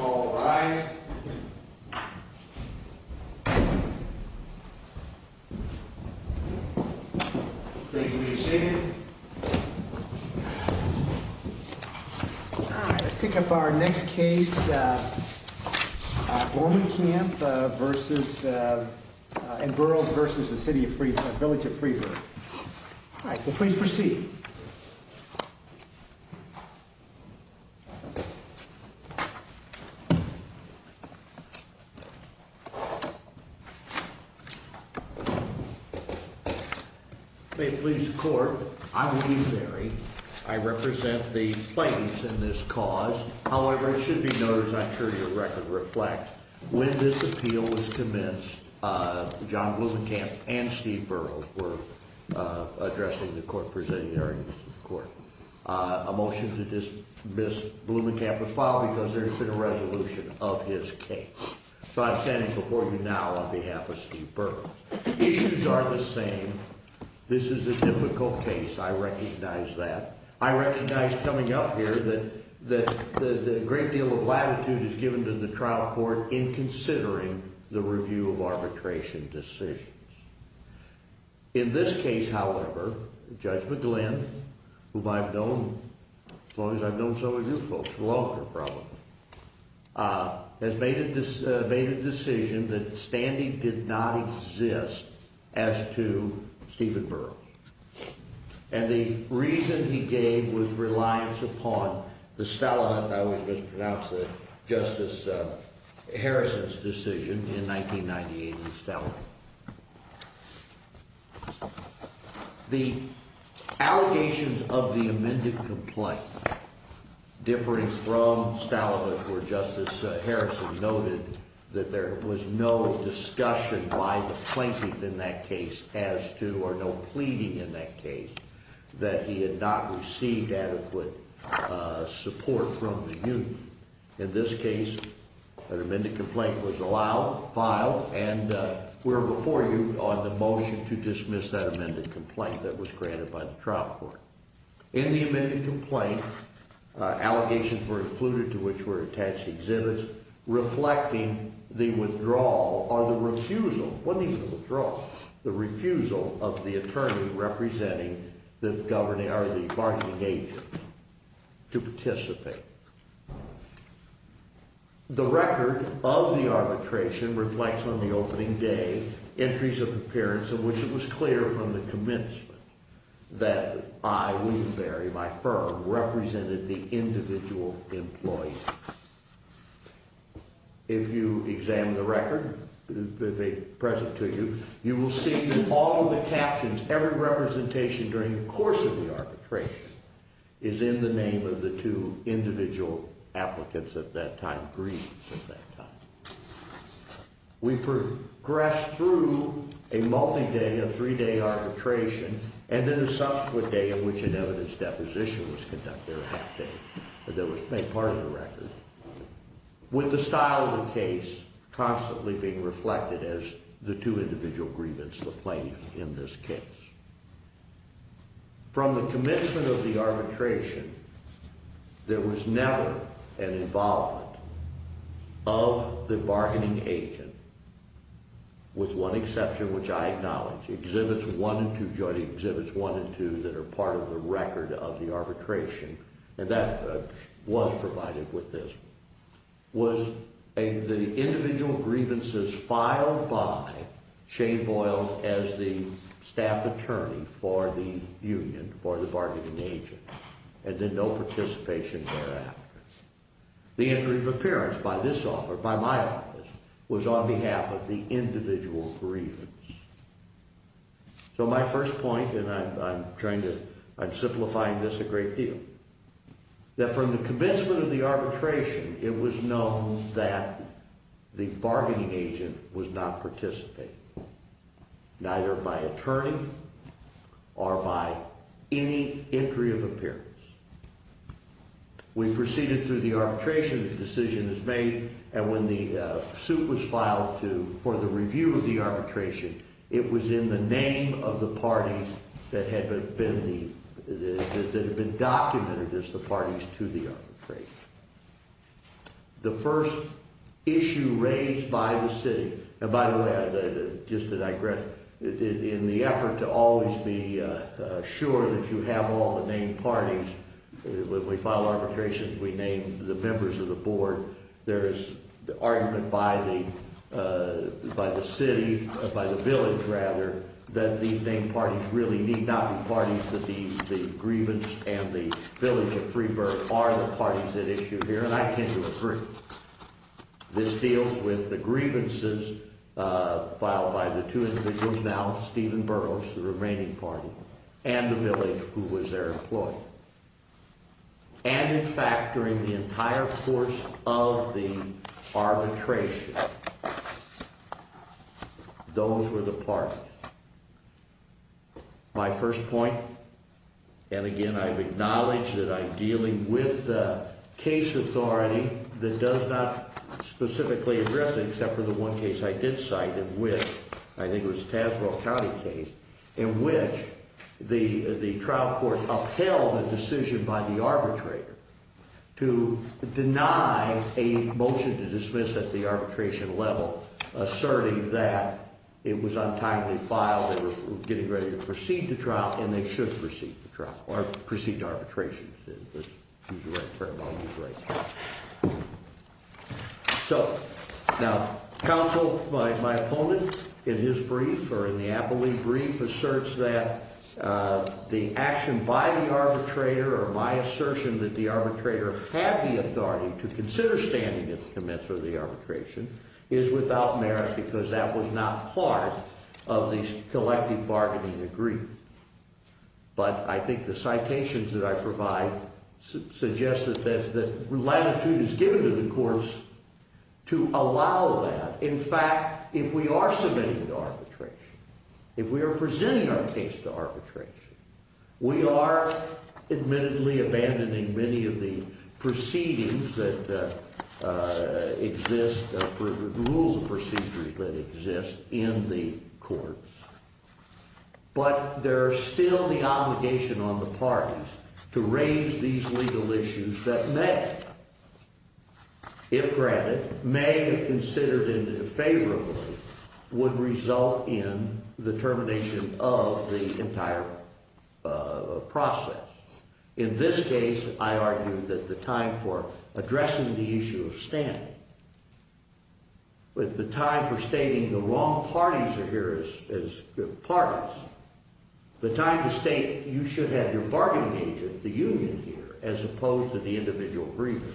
All rise. Please be seated. All right, let's pick up our next case. Blomenkamp v. Burroughs v. Village of Freeburg. All right, please proceed. Please be seated. Okay, please, the court. I'm Lee Berry. I represent the plaintiffs in this cause. However, it should be noted, as I'm sure your record reflects, when this appeal was commenced, John Blomenkamp and Steve Burroughs were addressing the court presiding therein. A motion to dismiss Blomenkamp is filed because there has been a resolution of his case. So I'm standing before you now on behalf of Steve Burroughs. Issues are the same. This is a difficult case. I recognize that. I recognize coming up here that a great deal of latitude is given to the trial court in considering the review of arbitration decisions. In this case, however, Judge McGlynn, whom I've known, as long as I've known some of you folks, will offer a problem, has made a decision that standing did not exist as to Stephen Burroughs. And the reason he gave was reliance upon the Stalagant, I always mispronounce that, Justice Harrison's decision in 1998 in Stalagant. The allegations of the amended complaint differing from Stalagant, where Justice Harrison noted that there was no discussion by the plaintiff in that case as to, or no pleading in that case, that he had not received adequate support from the union. In this case, an amended complaint was allowed, filed, and we're before you on the motion to dismiss that amended complaint that was granted by the trial court. In the amended complaint, allegations were included to which were attached exhibits reflecting the withdrawal or the refusal, wasn't even the withdrawal, the refusal of the attorney representing the bargaining agent to participate. The record of the arbitration reflects, on the opening day, entries of appearance of which it was clear from the commencement that I, William Berry, my firm, represented the individual employee. If you examine the record present to you, you will see that all of the captions, every representation during the course of the arbitration, is in the name of the two individual applicants at that time, grievance at that time. We progressed through a multi-day, a three-day arbitration, and then a subsequent day in which an evidence deposition was conducted, a half-day, that was to make part of the record, with the style of the case constantly being reflected as the two individual grievance, the plaintiff in this case. From the commencement of the arbitration, there was never an involvement of the bargaining agent, with one exception, which I acknowledge. Exhibits 1 and 2, Joint Exhibits 1 and 2, that are part of the record of the arbitration, and that was provided with this, was the individual grievances filed by Shane Boyles as the staff attorney for the union, for the bargaining agent, and then no participation thereafter. The entry of appearance by this office, by my office, was on behalf of the individual grievance. So my first point, and I'm trying to, I'm simplifying this a great deal, that from the commencement of the arbitration, it was known that the bargaining agent was not participating, neither by attorney or by any entry of appearance. We proceeded through the arbitration, the decision was made, and when the suit was filed to, for the review of the arbitration, it was in the name of the parties that had been the, that had been documented as the parties to the arbitration. The first issue raised by the city, and by the way, just to digress, in the effort to always be sure that you have all the named parties, when we file arbitrations, we name the members of the board. There is the argument by the, by the city, by the village, rather, that the named parties really need not be parties, that the grievance and the village of Freeburg are the parties at issue here, and I tend to agree. This deals with the grievances filed by the two individuals now, Stephen Burroughs, the remaining party, and the village, who was their employee. And, in fact, during the entire course of the arbitration, those were the parties. My first point, and again, I've acknowledged that I'm dealing with the case authority that does not specifically address it, except for the one case I did cite in which, I think it was Tazewell County case, in which the trial court upheld a decision by the arbitrator to deny a motion to dismiss at the arbitration level, asserting that it was untimely filed. They were getting ready to proceed to trial, and they should proceed to trial, or proceed to arbitration. So, now, counsel, my opponent, in his brief, or in the Applee brief, asserts that the action by the arbitrator, or my assertion that the arbitrator had the authority to consider standing at the commencement of the arbitration, is without merit, because that was not part of the collective bargaining agreement. But I think the citations that I provide suggest that latitude is given to the courts to allow that. There is still the obligation on the parties to raise these legal issues that may, if granted, may have considered it favorably, would result in the termination of the entire process. In this case, I argue that the time for addressing the issue of standing, with the time for stating the wrong parties are here as good parties, the time to state you should have your bargaining agent, the union here, as opposed to the individual grievance,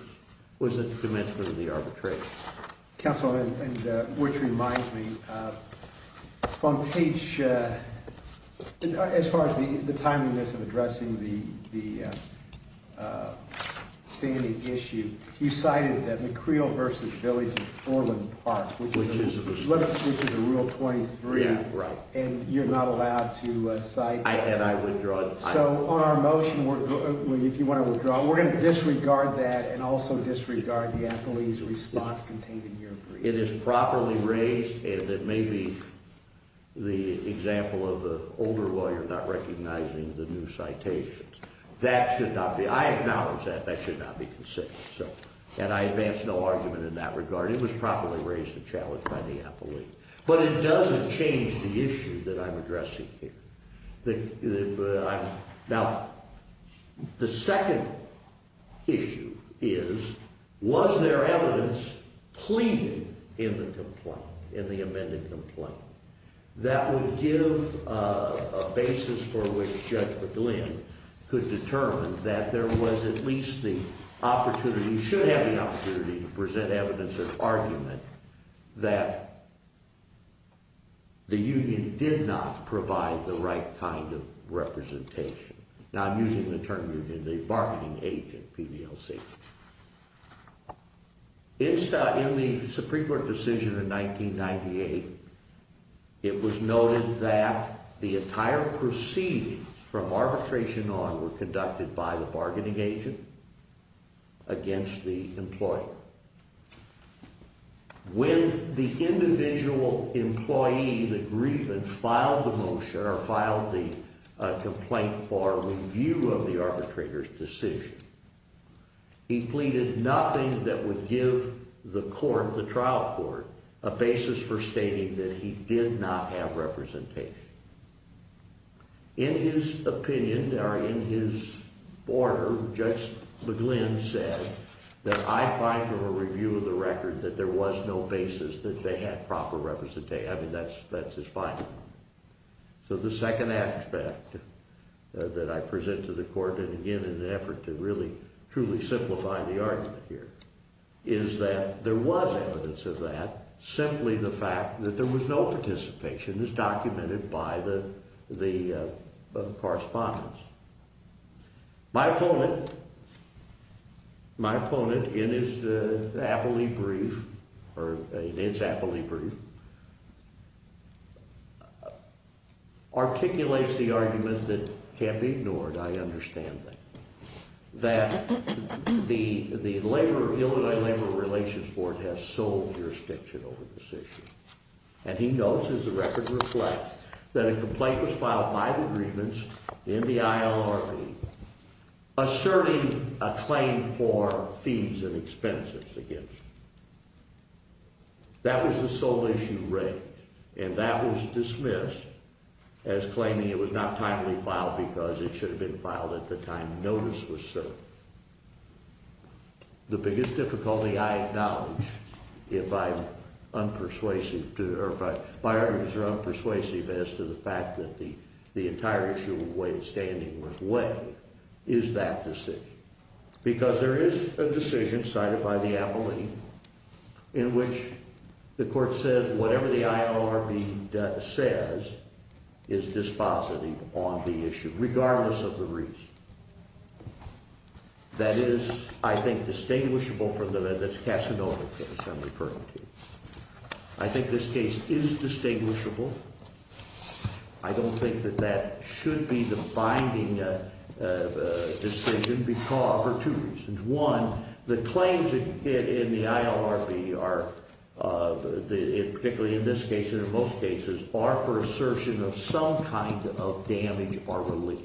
was at the commencement of the arbitration. Counsel, which reminds me, on page, as far as the timeliness of addressing the standing issue, you cited that McCreel v. Billings in Portland Park, which is a Rule 23, and you're not allowed to cite that. So on our motion, if you want to withdraw, we're going to disregard that and also disregard the appellee's response containing your brief. It is properly raised, and it may be the example of an older lawyer not recognizing the new citations. That should not be, I acknowledge that, that should not be considered. And I advance no argument in that regard. It was properly raised and challenged by the appellee. But it doesn't change the issue that I'm addressing here. Now, the second issue is, was there evidence pleading in the complaint, in the amended complaint, that would give a basis for which Judge McGlynn could determine that there was at least the opportunity, should have the opportunity to present evidence of argument, that the union did not provide the right kind of representation. Now, I'm using the term union, the bargaining agent, PDLC. In the Supreme Court decision in 1998, it was noted that the entire proceedings from arbitration on were conducted by the bargaining agent against the employer. When the individual employee, the grievance, filed the motion or filed the complaint for review of the arbitrator's decision, he pleaded nothing that would give the court, the trial court, a basis for stating that he did not have representation. In his opinion, or in his order, Judge McGlynn said that I find from a review of the record that there was no basis that they had proper representation. I mean, that's his finding. So the second aspect that I present to the court, and again in an effort to really, truly simplify the argument here, is that there was evidence of that, simply the fact that there was no participation as documented by the correspondence. My opponent, in his appellee brief, articulates the argument that can't be ignored, I understand that, that the Illinois Labor Relations Board has sold jurisdiction over this issue. And he notes, as the record reflects, that a complaint was filed by the grievance in the ILRB asserting a claim for fees and expenses against it. That was the sole issue raised, and that was dismissed as claiming it was not timely filed because it should have been filed at the time notice was served. The biggest difficulty I acknowledge, if I'm unpersuasive, or if my arguments are unpersuasive as to the fact that the entire issue of way of standing was weighed, is that decision. Because there is a decision cited by the appellee in which the court says whatever the ILRB says is dispositive on the issue, regardless of the reason. That is, I think, distinguishable from the Casanova case I'm referring to. I think this case is distinguishable. I don't think that that should be the binding decision for two reasons. One, the claims in the ILRB are, particularly in this case and in most cases, are for assertion of some kind of damage or relief.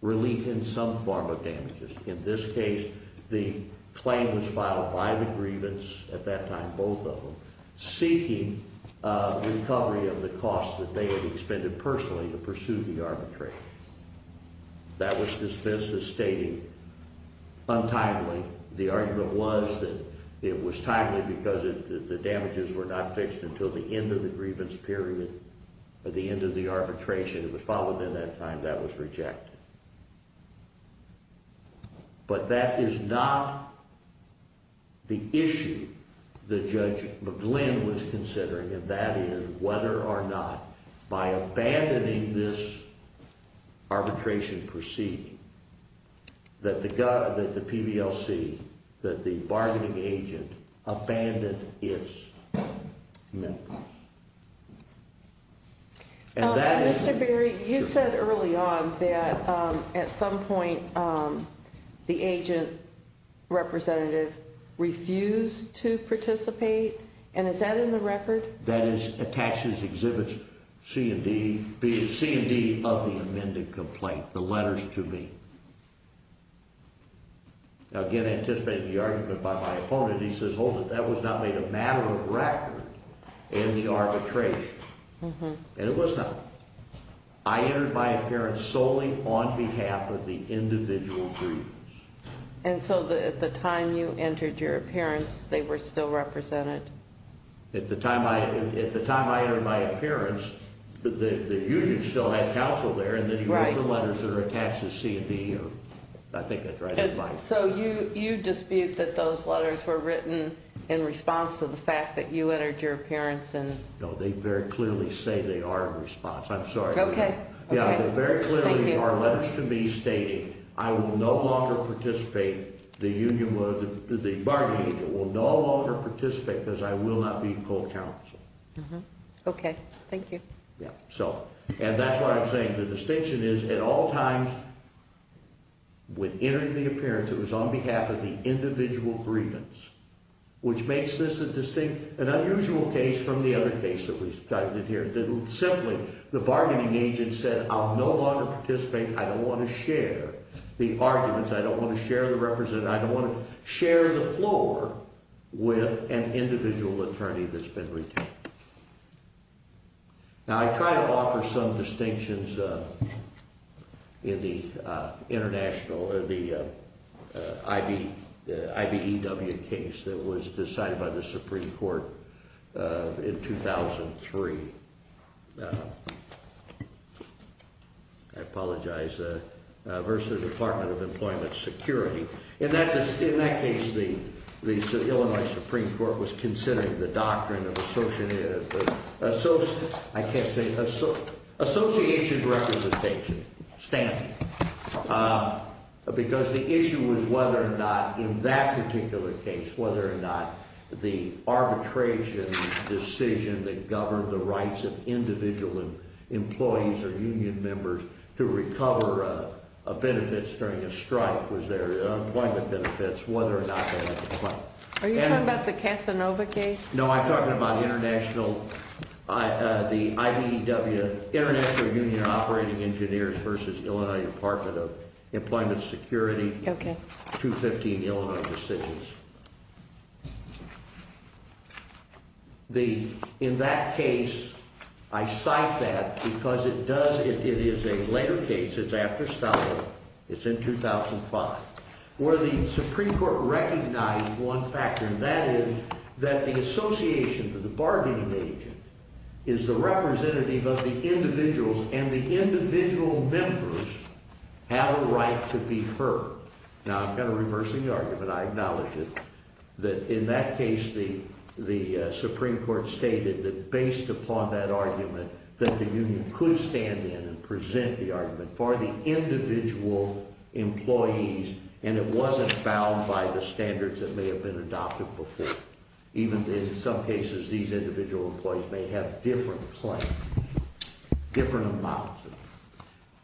Relief in some form of damages. In this case, the claim was filed by the grievance at that time, both of them, seeking recovery of the cost that they had expended personally to pursue the arbitration. That was dismissed as stating untimely. The argument was that it was timely because the damages were not fixed until the end of the grievance period or the end of the arbitration. It was filed within that time. That was rejected. But that is not the issue that Judge McGlynn was considering, and that is whether or not, by abandoning this arbitration proceeding, that the PVLC, that the bargaining agent, abandoned its members. Mr. Berry, you said early on that at some point the agent representative refused to participate, and is that in the record? That is attached as exhibits C and D, being C and D of the amended complaint, the letters to me. Again, anticipating the argument by my opponent, he says, hold it, that was not made a matter of record in the arbitration. And it was not. I entered my appearance solely on behalf of the individual grievance. And so at the time you entered your appearance, they were still represented? At the time I entered my appearance, the union still had counsel there, and then he wrote the letters that are attached as C and D. So you dispute that those letters were written in response to the fact that you entered your appearance? No, they very clearly say they are in response. I'm sorry. Okay. Yeah, they very clearly are letters to me stating I will no longer participate, the bargaining agent will no longer participate because I will not be called counsel. Okay, thank you. And that's what I'm saying, the distinction is, at all times, when entering the appearance, it was on behalf of the individual grievance, which makes this a distinct, an unusual case from the other case that we cited here. Simply, the bargaining agent said, I'll no longer participate, I don't want to share the arguments, I don't want to share the representative, I don't want to share the floor with an individual attorney that's been retained. Now I try to offer some distinctions in the international, the IBEW case that was decided by the Supreme Court in 2003. I apologize, versus the Department of Employment Security. In that case, the Illinois Supreme Court was considering the doctrine of association representation, standing. Because the issue was whether or not, in that particular case, whether or not the arbitration decision that governed the rights of individual employees or union members to recover benefits during a strike was there, employment benefits, whether or not that was the point. Are you talking about the Casanova case? No, I'm talking about international, the IBEW, International Union of Operating Engineers versus Illinois Department of Employment Security. 215 Illinois decisions. The, in that case, I cite that because it does, it is a later case, it's after Stalin, it's in 2005, where the Supreme Court recognized one factor, and that is that the association with the bargaining agent is the representative of the individuals and the individual members have a right to be heard. Now, I'm kind of reversing the argument, I acknowledge it, that in that case, the Supreme Court stated that based upon that argument, that the union could stand in and present the argument for the individual employees, and it wasn't bound by the standards that may have been adopted before. Even in some cases, these individual employees may have different claims, different amounts.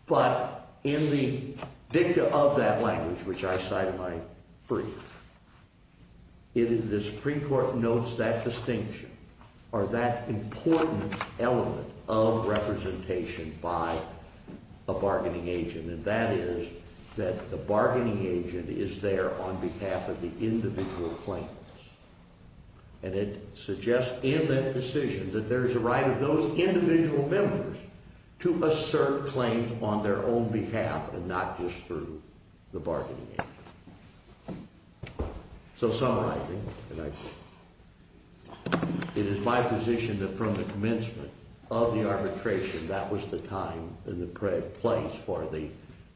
But in the dicta of that language, which I cite in my brief, it is the Supreme Court notes that distinction, or that important element of representation by a bargaining agent, and that is that the bargaining agent is there on behalf of the individual claims. And it suggests in that decision that there's a right of those individual members to assert claims on their own behalf and not just through the bargaining agent. So, summarizing, it is my position that from the commencement of the arbitration, that was the time and the place for the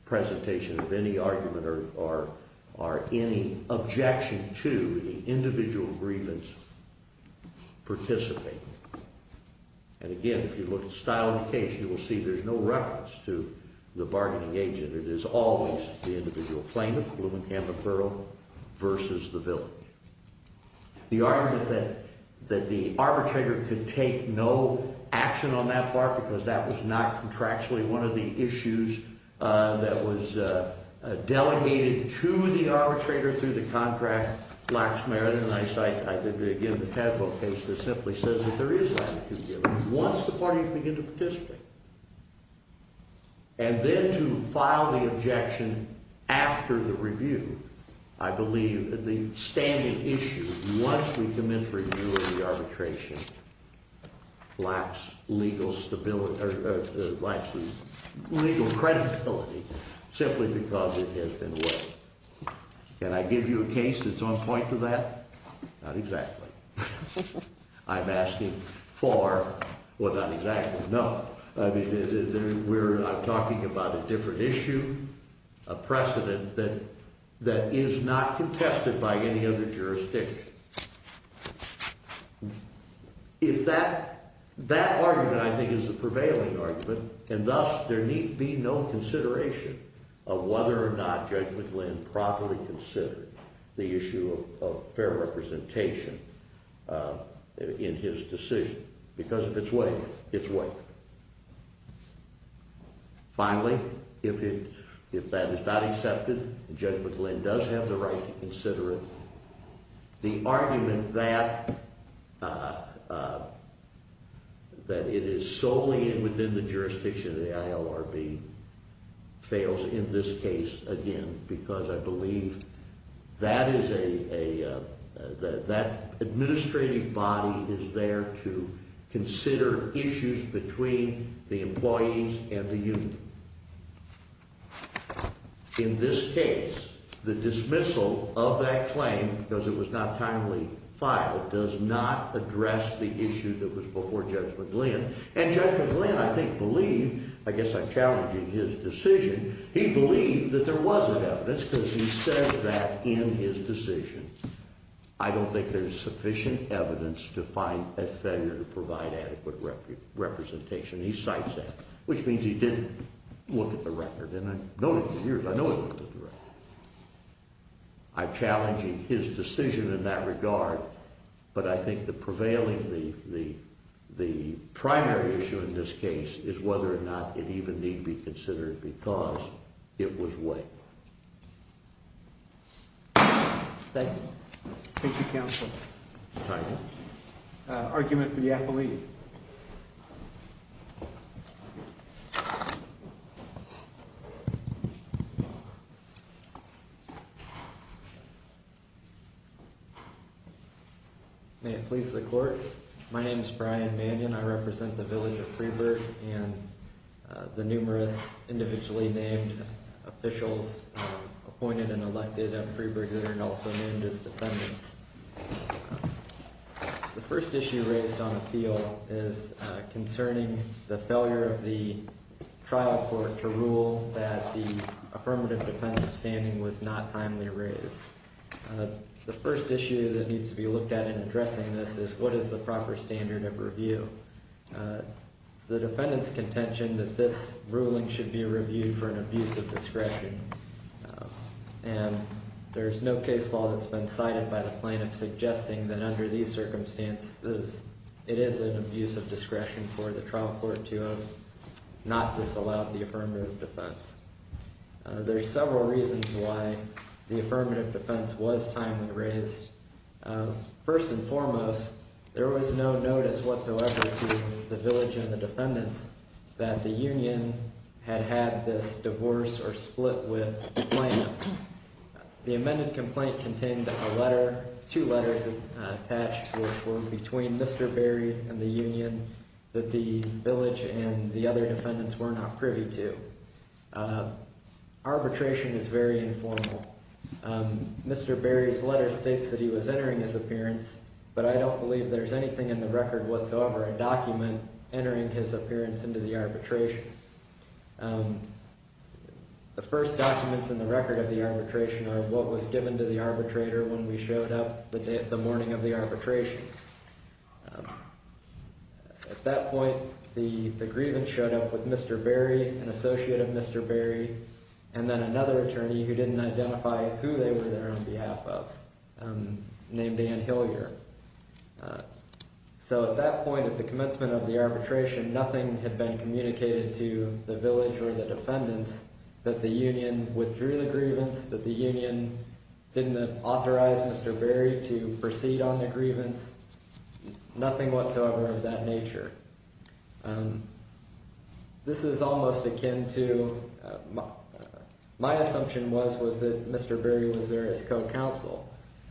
presentation of any argument or any objection to the individual grievance participating. And again, if you look at the style of the case, you will see there's no reference to the bargaining agent. It is always the individual claimant, Blumenkamp and Burrow, versus the villain. The argument that the arbitrator could take no action on that part, because that was not contractually one of the issues that was delegated to the arbitrator through the contract, lacks merit. And I cite, again, the Tadpole case that simply says that there is latitude given once the parties begin to participate. And then to file the objection after the review, I believe that the standing issue, once we commence review of the arbitration, lacks legal credibility simply because it has been weighed. Can I give you a case that's on point for that? Not exactly. I'm asking for, well, not exactly, no. I mean, we're talking about a different issue, a precedent that is not contested by any other jurisdiction. If that argument, I think, is the prevailing argument, and thus there need be no consideration of whether or not Judge McLinn properly considered the issue of fair representation in his decision, because if it's weighed, it's weighed. Finally, if that is not accepted, and Judge McLinn does have the right to consider it, the argument that it is solely within the jurisdiction of the ILRB fails in this case again, because I believe that is a, that administrative body is there to consider issues between the employees and the union. In this case, the dismissal of that claim, because it was not timely filed, does not address the issue that was before Judge McLinn. And Judge McLinn, I think, believed, I guess I'm challenging his decision, he believed that there wasn't evidence, because he says that in his decision, I don't think there's sufficient evidence to find a failure to provide adequate representation. He cites that, which means he didn't look at the record, and I've known it for years, I know he looked at the record. I'm challenging his decision in that regard, but I think the prevailing, the primary issue in this case is whether or not it even need be considered, because it was weighed. Thank you. Thank you, Counsel. Argument for the affiliate. May it please the court. My name is Brian Mannion, I represent the village of Freeburg, and the numerous individually named officials appointed and elected at Freeburg that are also named as defendants. The first issue raised on appeal is concerning the failure of the trial court to rule that the affirmative defensive standing was not timely raised. The first issue that needs to be looked at in addressing this is what is the proper standard of review. It's the defendant's contention that this ruling should be reviewed for an abuse of discretion. And there's no case law that's been cited by the plaintiff suggesting that under these circumstances, it is an abuse of discretion for the trial court to have not disallowed the affirmative defense. There's several reasons why the affirmative defense was timely raised. First and foremost, there was no notice whatsoever to the village and the defendants that the union had had this divorce or split with the plaintiff. The amended complaint contained a letter, two letters attached were between Mr. Berry and the union that the village and the other defendants were not privy to. Arbitration is very informal. Mr. Berry's letter states that he was entering his appearance, but I don't believe there's anything in the record whatsoever, a document entering his appearance into the arbitration. The first documents in the record of the arbitration are what was given to the arbitrator when we showed up the morning of the arbitration. At that point, the grievance showed up with Mr. Berry, an associate of Mr. Berry, and then another attorney who didn't identify who they were there on behalf of named Ann Hillier. So at that point at the commencement of the arbitration, nothing had been communicated to the village or the defendants that the union withdrew the grievance, that the union didn't authorize Mr. Berry to proceed on the grievance, nothing whatsoever of that nature. This is almost akin to, my assumption was that Mr. Berry was there as co-counsel.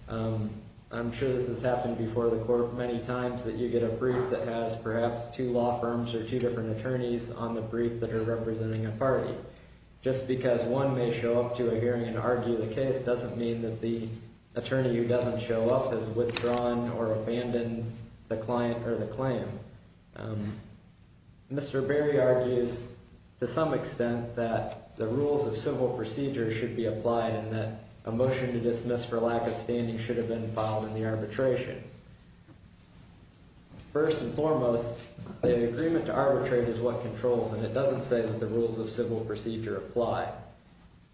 I'm sure this has happened before the court many times that you get a brief that has perhaps two law firms or two different attorneys on the brief that are representing a party. Just because one may show up to a hearing and argue the case doesn't mean that the attorney who doesn't show up has withdrawn or abandoned the client or the claim. Mr. Berry argues to some extent that the rules of civil procedure should be applied and that a motion to dismiss for lack of standing should have been filed in the arbitration. First and foremost, the agreement to arbitrate is what controls and it doesn't say that the rules of civil procedure apply.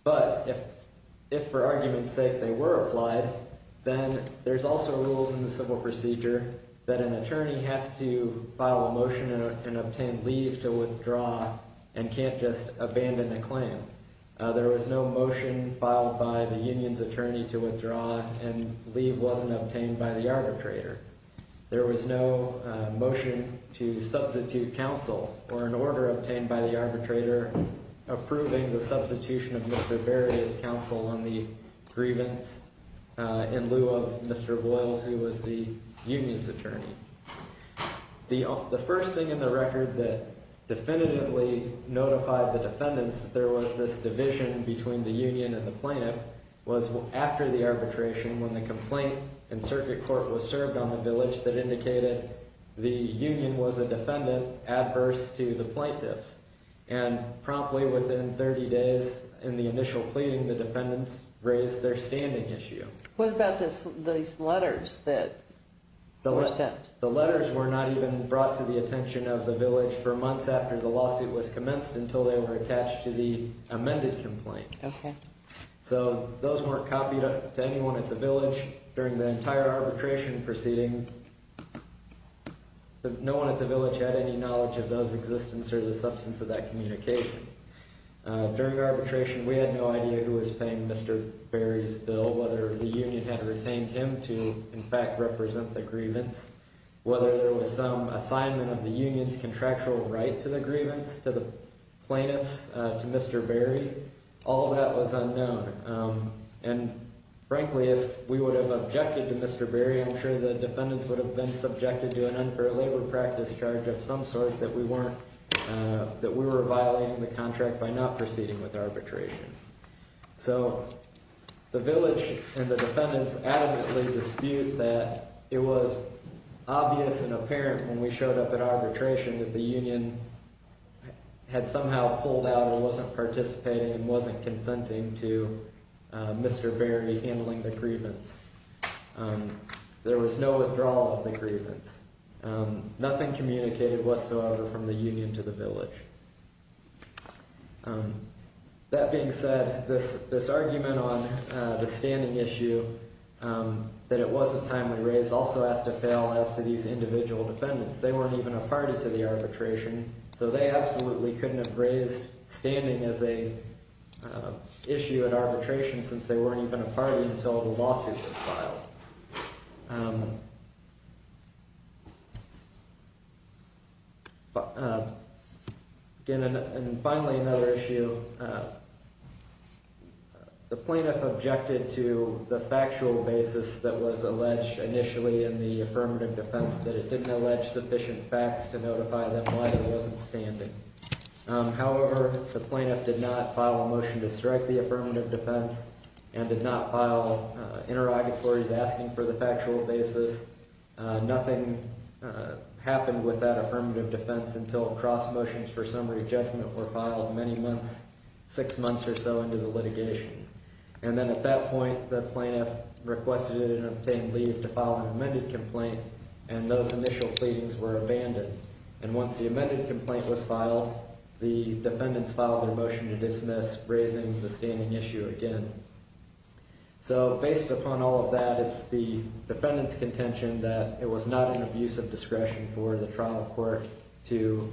But if for argument's sake they were applied, then there's also rules in the civil procedure that an attorney has to file a motion and obtain leave to withdraw and can't just abandon a claim. There was no motion filed by the union's attorney to withdraw and leave wasn't obtained by the arbitrator. There was no motion to substitute counsel or an order obtained by the arbitrator approving the substitution of Mr. Berry as counsel on the grievance in lieu of Mr. Boyles, who was the union's attorney. The first thing in the record that definitively notified the defendants that there was this division between the union and the plaintiff was after the arbitration when the complaint in circuit court was served on the village that indicated the union was a defendant adverse to the plaintiffs. And promptly within 30 days in the initial pleading, the defendants raised their standing issue. What about these letters that were sent? The letters were not even brought to the attention of the village for months after the lawsuit was commenced until they were attached to the amended complaint. So those weren't copied to anyone at the village. During the entire arbitration proceeding, no one at the village had any knowledge of those existence or the substance of that communication. During arbitration, we had no idea who was paying Mr. Berry's bill, whether the union had retained him to, in fact, represent the grievance, whether there was some assignment of the union's contractual right to the grievance to the plaintiffs, to Mr. Berry. All of that was unknown. And frankly, if we would have objected to Mr. Berry, I'm sure the defendants would have been subjected to an unfair labor practice charge of some sort that we weren't, that we were violating the contract by not proceeding with arbitration. So the village and the defendants adamantly dispute that it was obvious and apparent when we showed up at arbitration that the union had somehow pulled out and wasn't participating and wasn't consenting to Mr. Berry handling the grievance. There was no withdrawal of the grievance. Nothing communicated whatsoever from the union to the village. That being said, this argument on the standing issue that it wasn't timely raised also has to fail as to these individual defendants. They weren't even a party to the arbitration, so they absolutely couldn't have raised standing as an issue at arbitration since they weren't even a party until the lawsuit was filed. Again, and finally another issue, the plaintiff objected to the factual basis that was alleged initially in the affirmative defense that it didn't allege sufficient facts to notify them why there wasn't standing. However, the plaintiff did not file a motion to strike the affirmative defense and did not file interrogatories asking for the factual basis. Nothing happened with that affirmative defense until cross motions for summary judgment were filed many months, six months or so into the litigation. And then at that point, the plaintiff requested it and obtained leave to file an amended complaint, and those initial pleadings were abandoned. And once the amended complaint was filed, the defendants filed their motion to dismiss, raising the standing issue again. So based upon all of that, it's the defendant's contention that it was not an abuse of discretion for the trial court to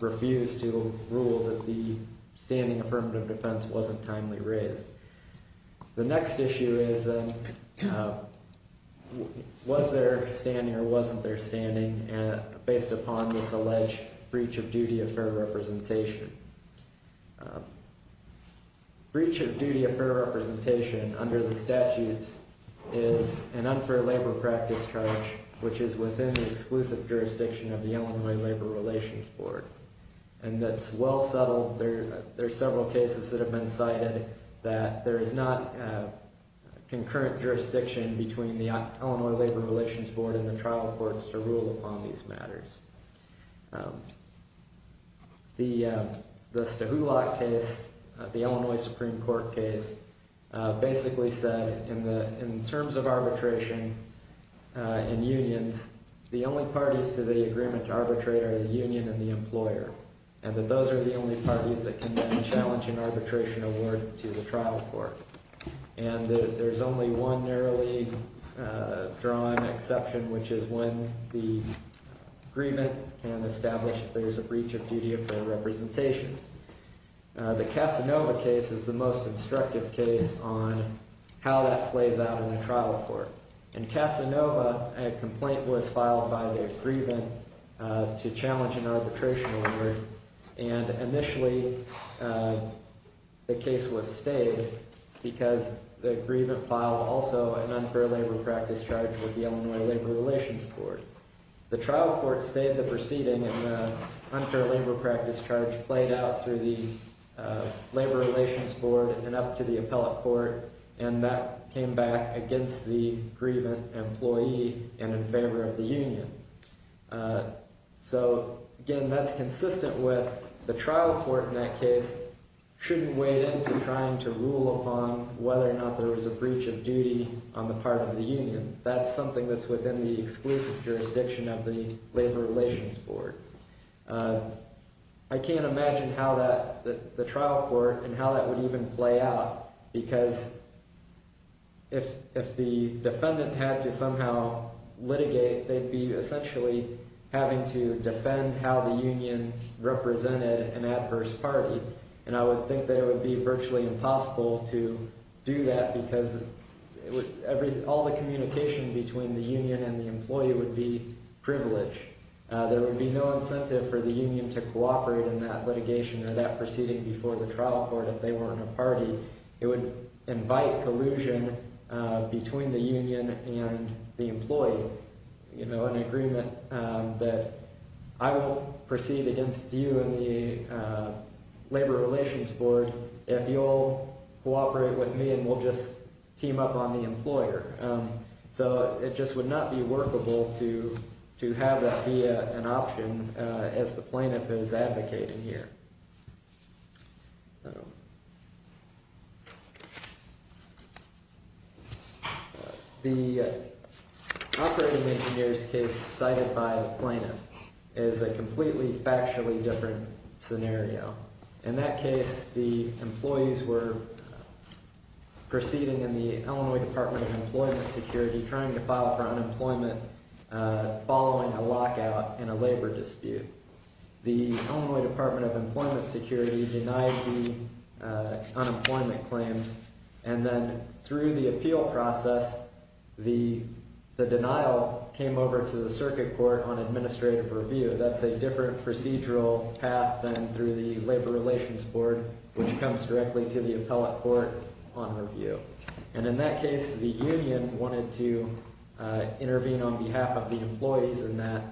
refuse to rule that the standing affirmative defense wasn't timely raised. The next issue is then, was there standing or wasn't there standing based upon this alleged breach of duty of fair representation? Breach of duty of fair representation under the statutes is an unfair labor practice charge, which is within the exclusive jurisdiction of the Illinois Labor Relations Board. And that's well settled. There are several cases that have been cited that there is not concurrent jurisdiction between the Illinois Labor Relations Board and the trial courts to rule upon these matters. The Stahulok case, the Illinois Supreme Court case, basically said in terms of arbitration in unions, the only parties to the agreement to arbitrate are the union and the employer. And that those are the only parties that can then challenge an arbitration award to the trial court. And there's only one narrowly drawn exception, which is when the agreement can establish there's a breach of duty of fair representation. The Casanova case is the most instructive case on how that plays out in a trial court. In Casanova, a complaint was filed by the agreement to challenge an arbitration award, and initially the case was stayed because the agreement filed also an unfair labor practice charge with the Illinois Labor Relations Board. The trial court stayed the proceeding and the unfair labor practice charge played out through the Labor Relations Board and up to the appellate court, and that came back against the grievant employee and in favor of the union. So, again, that's consistent with the trial court in that case shouldn't wade into trying to rule upon whether or not there was a breach of duty on the part of the union. That's something that's within the exclusive jurisdiction of the Labor Relations Board. I can't imagine how the trial court and how that would even play out because if the defendant had to somehow litigate, they'd be essentially having to defend how the union represented an adverse party. And I would think that it would be virtually impossible to do that because all the communication between the union and the employee would be privileged. There would be no incentive for the union to cooperate in that litigation or that proceeding before the trial court if they weren't a party. It would invite collusion between the union and the employee. You know, an agreement that I will proceed against you and the Labor Relations Board if you'll cooperate with me and we'll just team up on the employer. So it just would not be workable to have that be an option as the plaintiff is advocating here. The operating engineer's case cited by the plaintiff is a completely factually different scenario. In that case, the employees were proceeding in the Illinois Department of Employment Security trying to file for unemployment following a lockout in a labor dispute. The Illinois Department of Employment Security denied the unemployment claims and then through the appeal process, the denial came over to the circuit court on administrative review. That's a different procedural path than through the Labor Relations Board, which comes directly to the appellate court on review. And in that case, the union wanted to intervene on behalf of the employees in that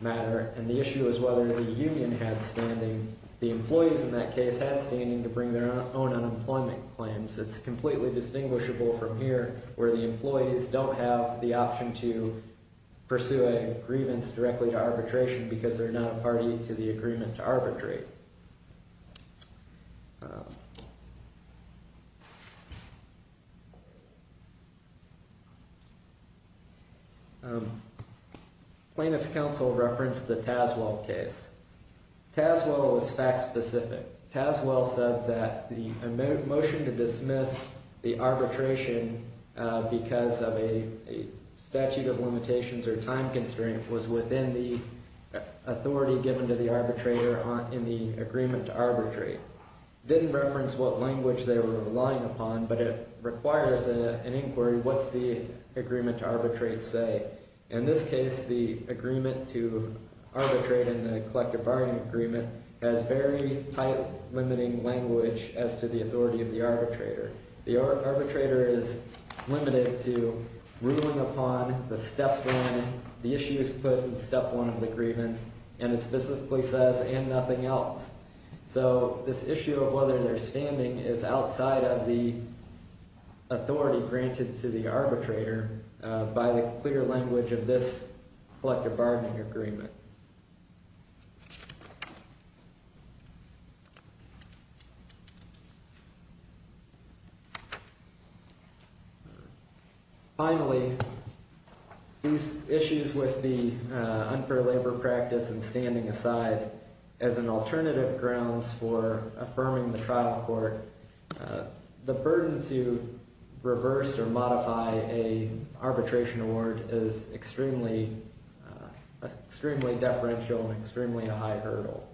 matter. And the issue is whether the union had standing, the employees in that case had standing to bring their own unemployment claims. It's completely distinguishable from here where the employees don't have the option to pursue a grievance directly to arbitration because they're not a party to the agreement to arbitrate. Plaintiff's counsel referenced the Taswell case. Taswell was fact specific. Taswell said that the motion to dismiss the arbitration because of a statute of limitations or time constraint was within the authority given to the arbitrator in the agreement to arbitrate. Didn't reference what language they were relying upon, but it requires an inquiry. What's the agreement to arbitrate say? In this case, the agreement to arbitrate in the collective bargaining agreement has very tight limiting language as to the authority of the arbitrator. The arbitrator is limited to ruling upon the step one, the issues put in step one of the grievance, and it specifically says, and nothing else. So this issue of whether they're standing is outside of the authority granted to the arbitrator by the clear language of this collective bargaining agreement. Finally, these issues with the unfair labor practice and standing aside as an alternative grounds for affirming the trial court. The burden to reverse or modify a arbitration award is extremely deferential and extremely high hurdle.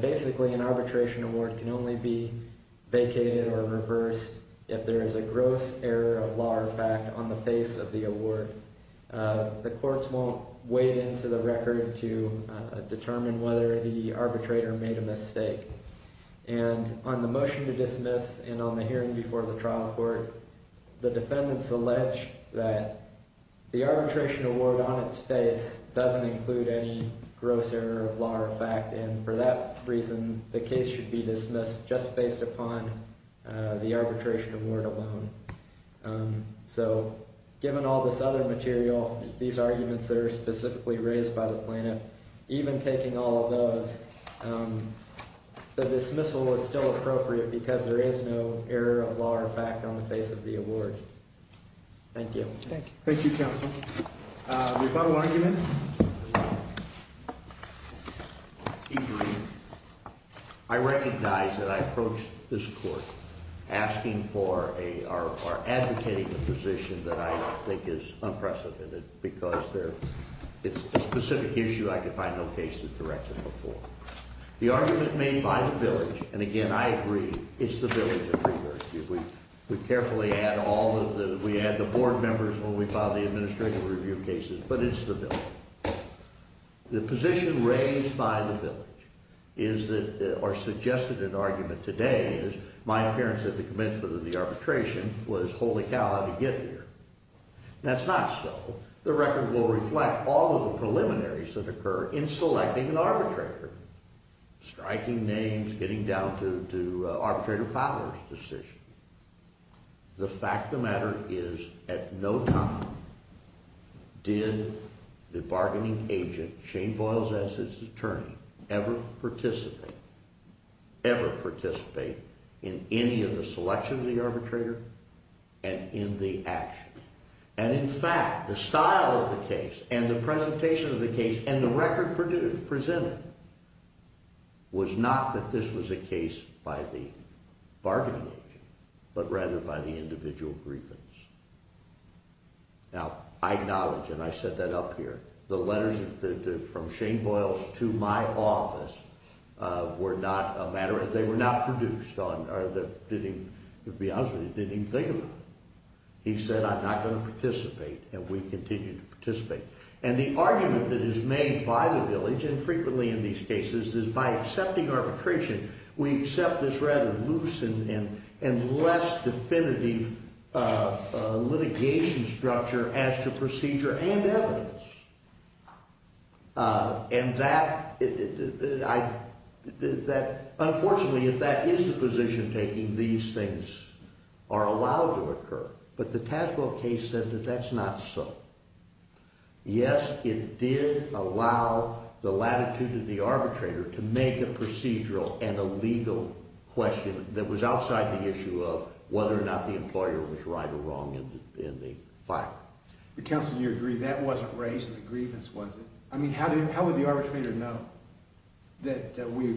Basically, an arbitration award can only be vacated or reversed if there is a gross error of law or fact on the face of the award. The courts won't wade into the record to determine whether the arbitrator made a mistake. And on the motion to dismiss and on the hearing before the trial court, the defendants allege that the arbitration award on its face doesn't include any gross error of law or fact. And for that reason, the case should be dismissed just based upon the arbitration award alone. So given all this other material, these arguments that are specifically raised by the plaintiff, even taking all of those, the dismissal is still appropriate because there is no error of law or fact on the face of the award. Thank you. Thank you, counsel. Rebuttal argument? I agree. I recognize that I approached this court asking for or advocating a position that I think is unprecedented because it's a specific issue I could find no case that directs it before. The argument made by the village, and again, I agree, it's the village that reversed it. We carefully add all of the, we add the board members when we file the administrative review cases, but it's the village. The position raised by the village is that, or suggested an argument today is my appearance at the commencement of the arbitration was holy cow, how did he get here? That's not so. The record will reflect all of the preliminaries that occur in selecting an arbitrator, striking names, getting down to arbitrator filers decision. The fact of the matter is at no time did the bargaining agent, Shane Boyles as his attorney, ever participate, ever participate in any of the selection of the arbitrator and in the action. And in fact, the style of the case and the presentation of the case and the record presented was not that this was a case by the bargaining agent, but rather by the individual grievance. Now, I acknowledge, and I set that up here, the letters from Shane Boyles to my office were not a matter, they were not produced on, or didn't, to be honest with you, didn't even think of it. He said, I'm not going to participate, and we continued to participate. And the argument that is made by the village, and frequently in these cases, is by accepting arbitration, we accept this rather loose and less definitive litigation structure as to procedure and evidence. And that, unfortunately, if that is the position taking, these things are allowed to occur, but the Taswell case said that that's not so. Yes, it did allow the latitude of the arbitrator to make a procedural and a legal question that was outside the issue of whether or not the employer was right or wrong in the fact. Counsel, do you agree that wasn't raised in the grievance, was it? I mean, how would the arbitrator know that we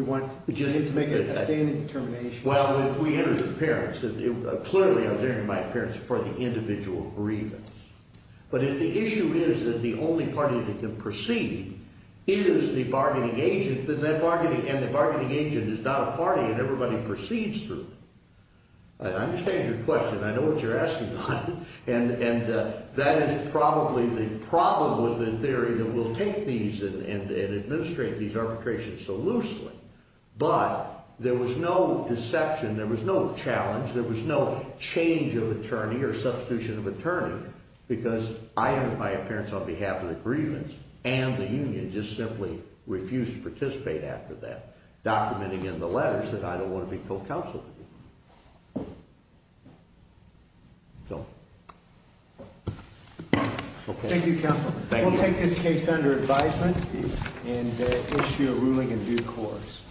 want to make a sustained determination? Well, we interviewed the parents. Clearly, I was interviewing my parents for the individual grievance. But if the issue is that the only party that can proceed is the bargaining agent, and the bargaining agent is not a party and everybody proceeds through, I understand your question. I know what you're asking, and that is probably the problem with the theory that we'll take these and administrate these arbitrations so loosely. But there was no deception, there was no challenge, there was no change of attorney or substitution of attorney, because I am, in my appearance, on behalf of the grievance and the union, just simply refused to participate after that, documenting in the letters that I don't want to be co-counsel. Thank you, counsel. We'll take this case under advisement and issue a ruling in due course.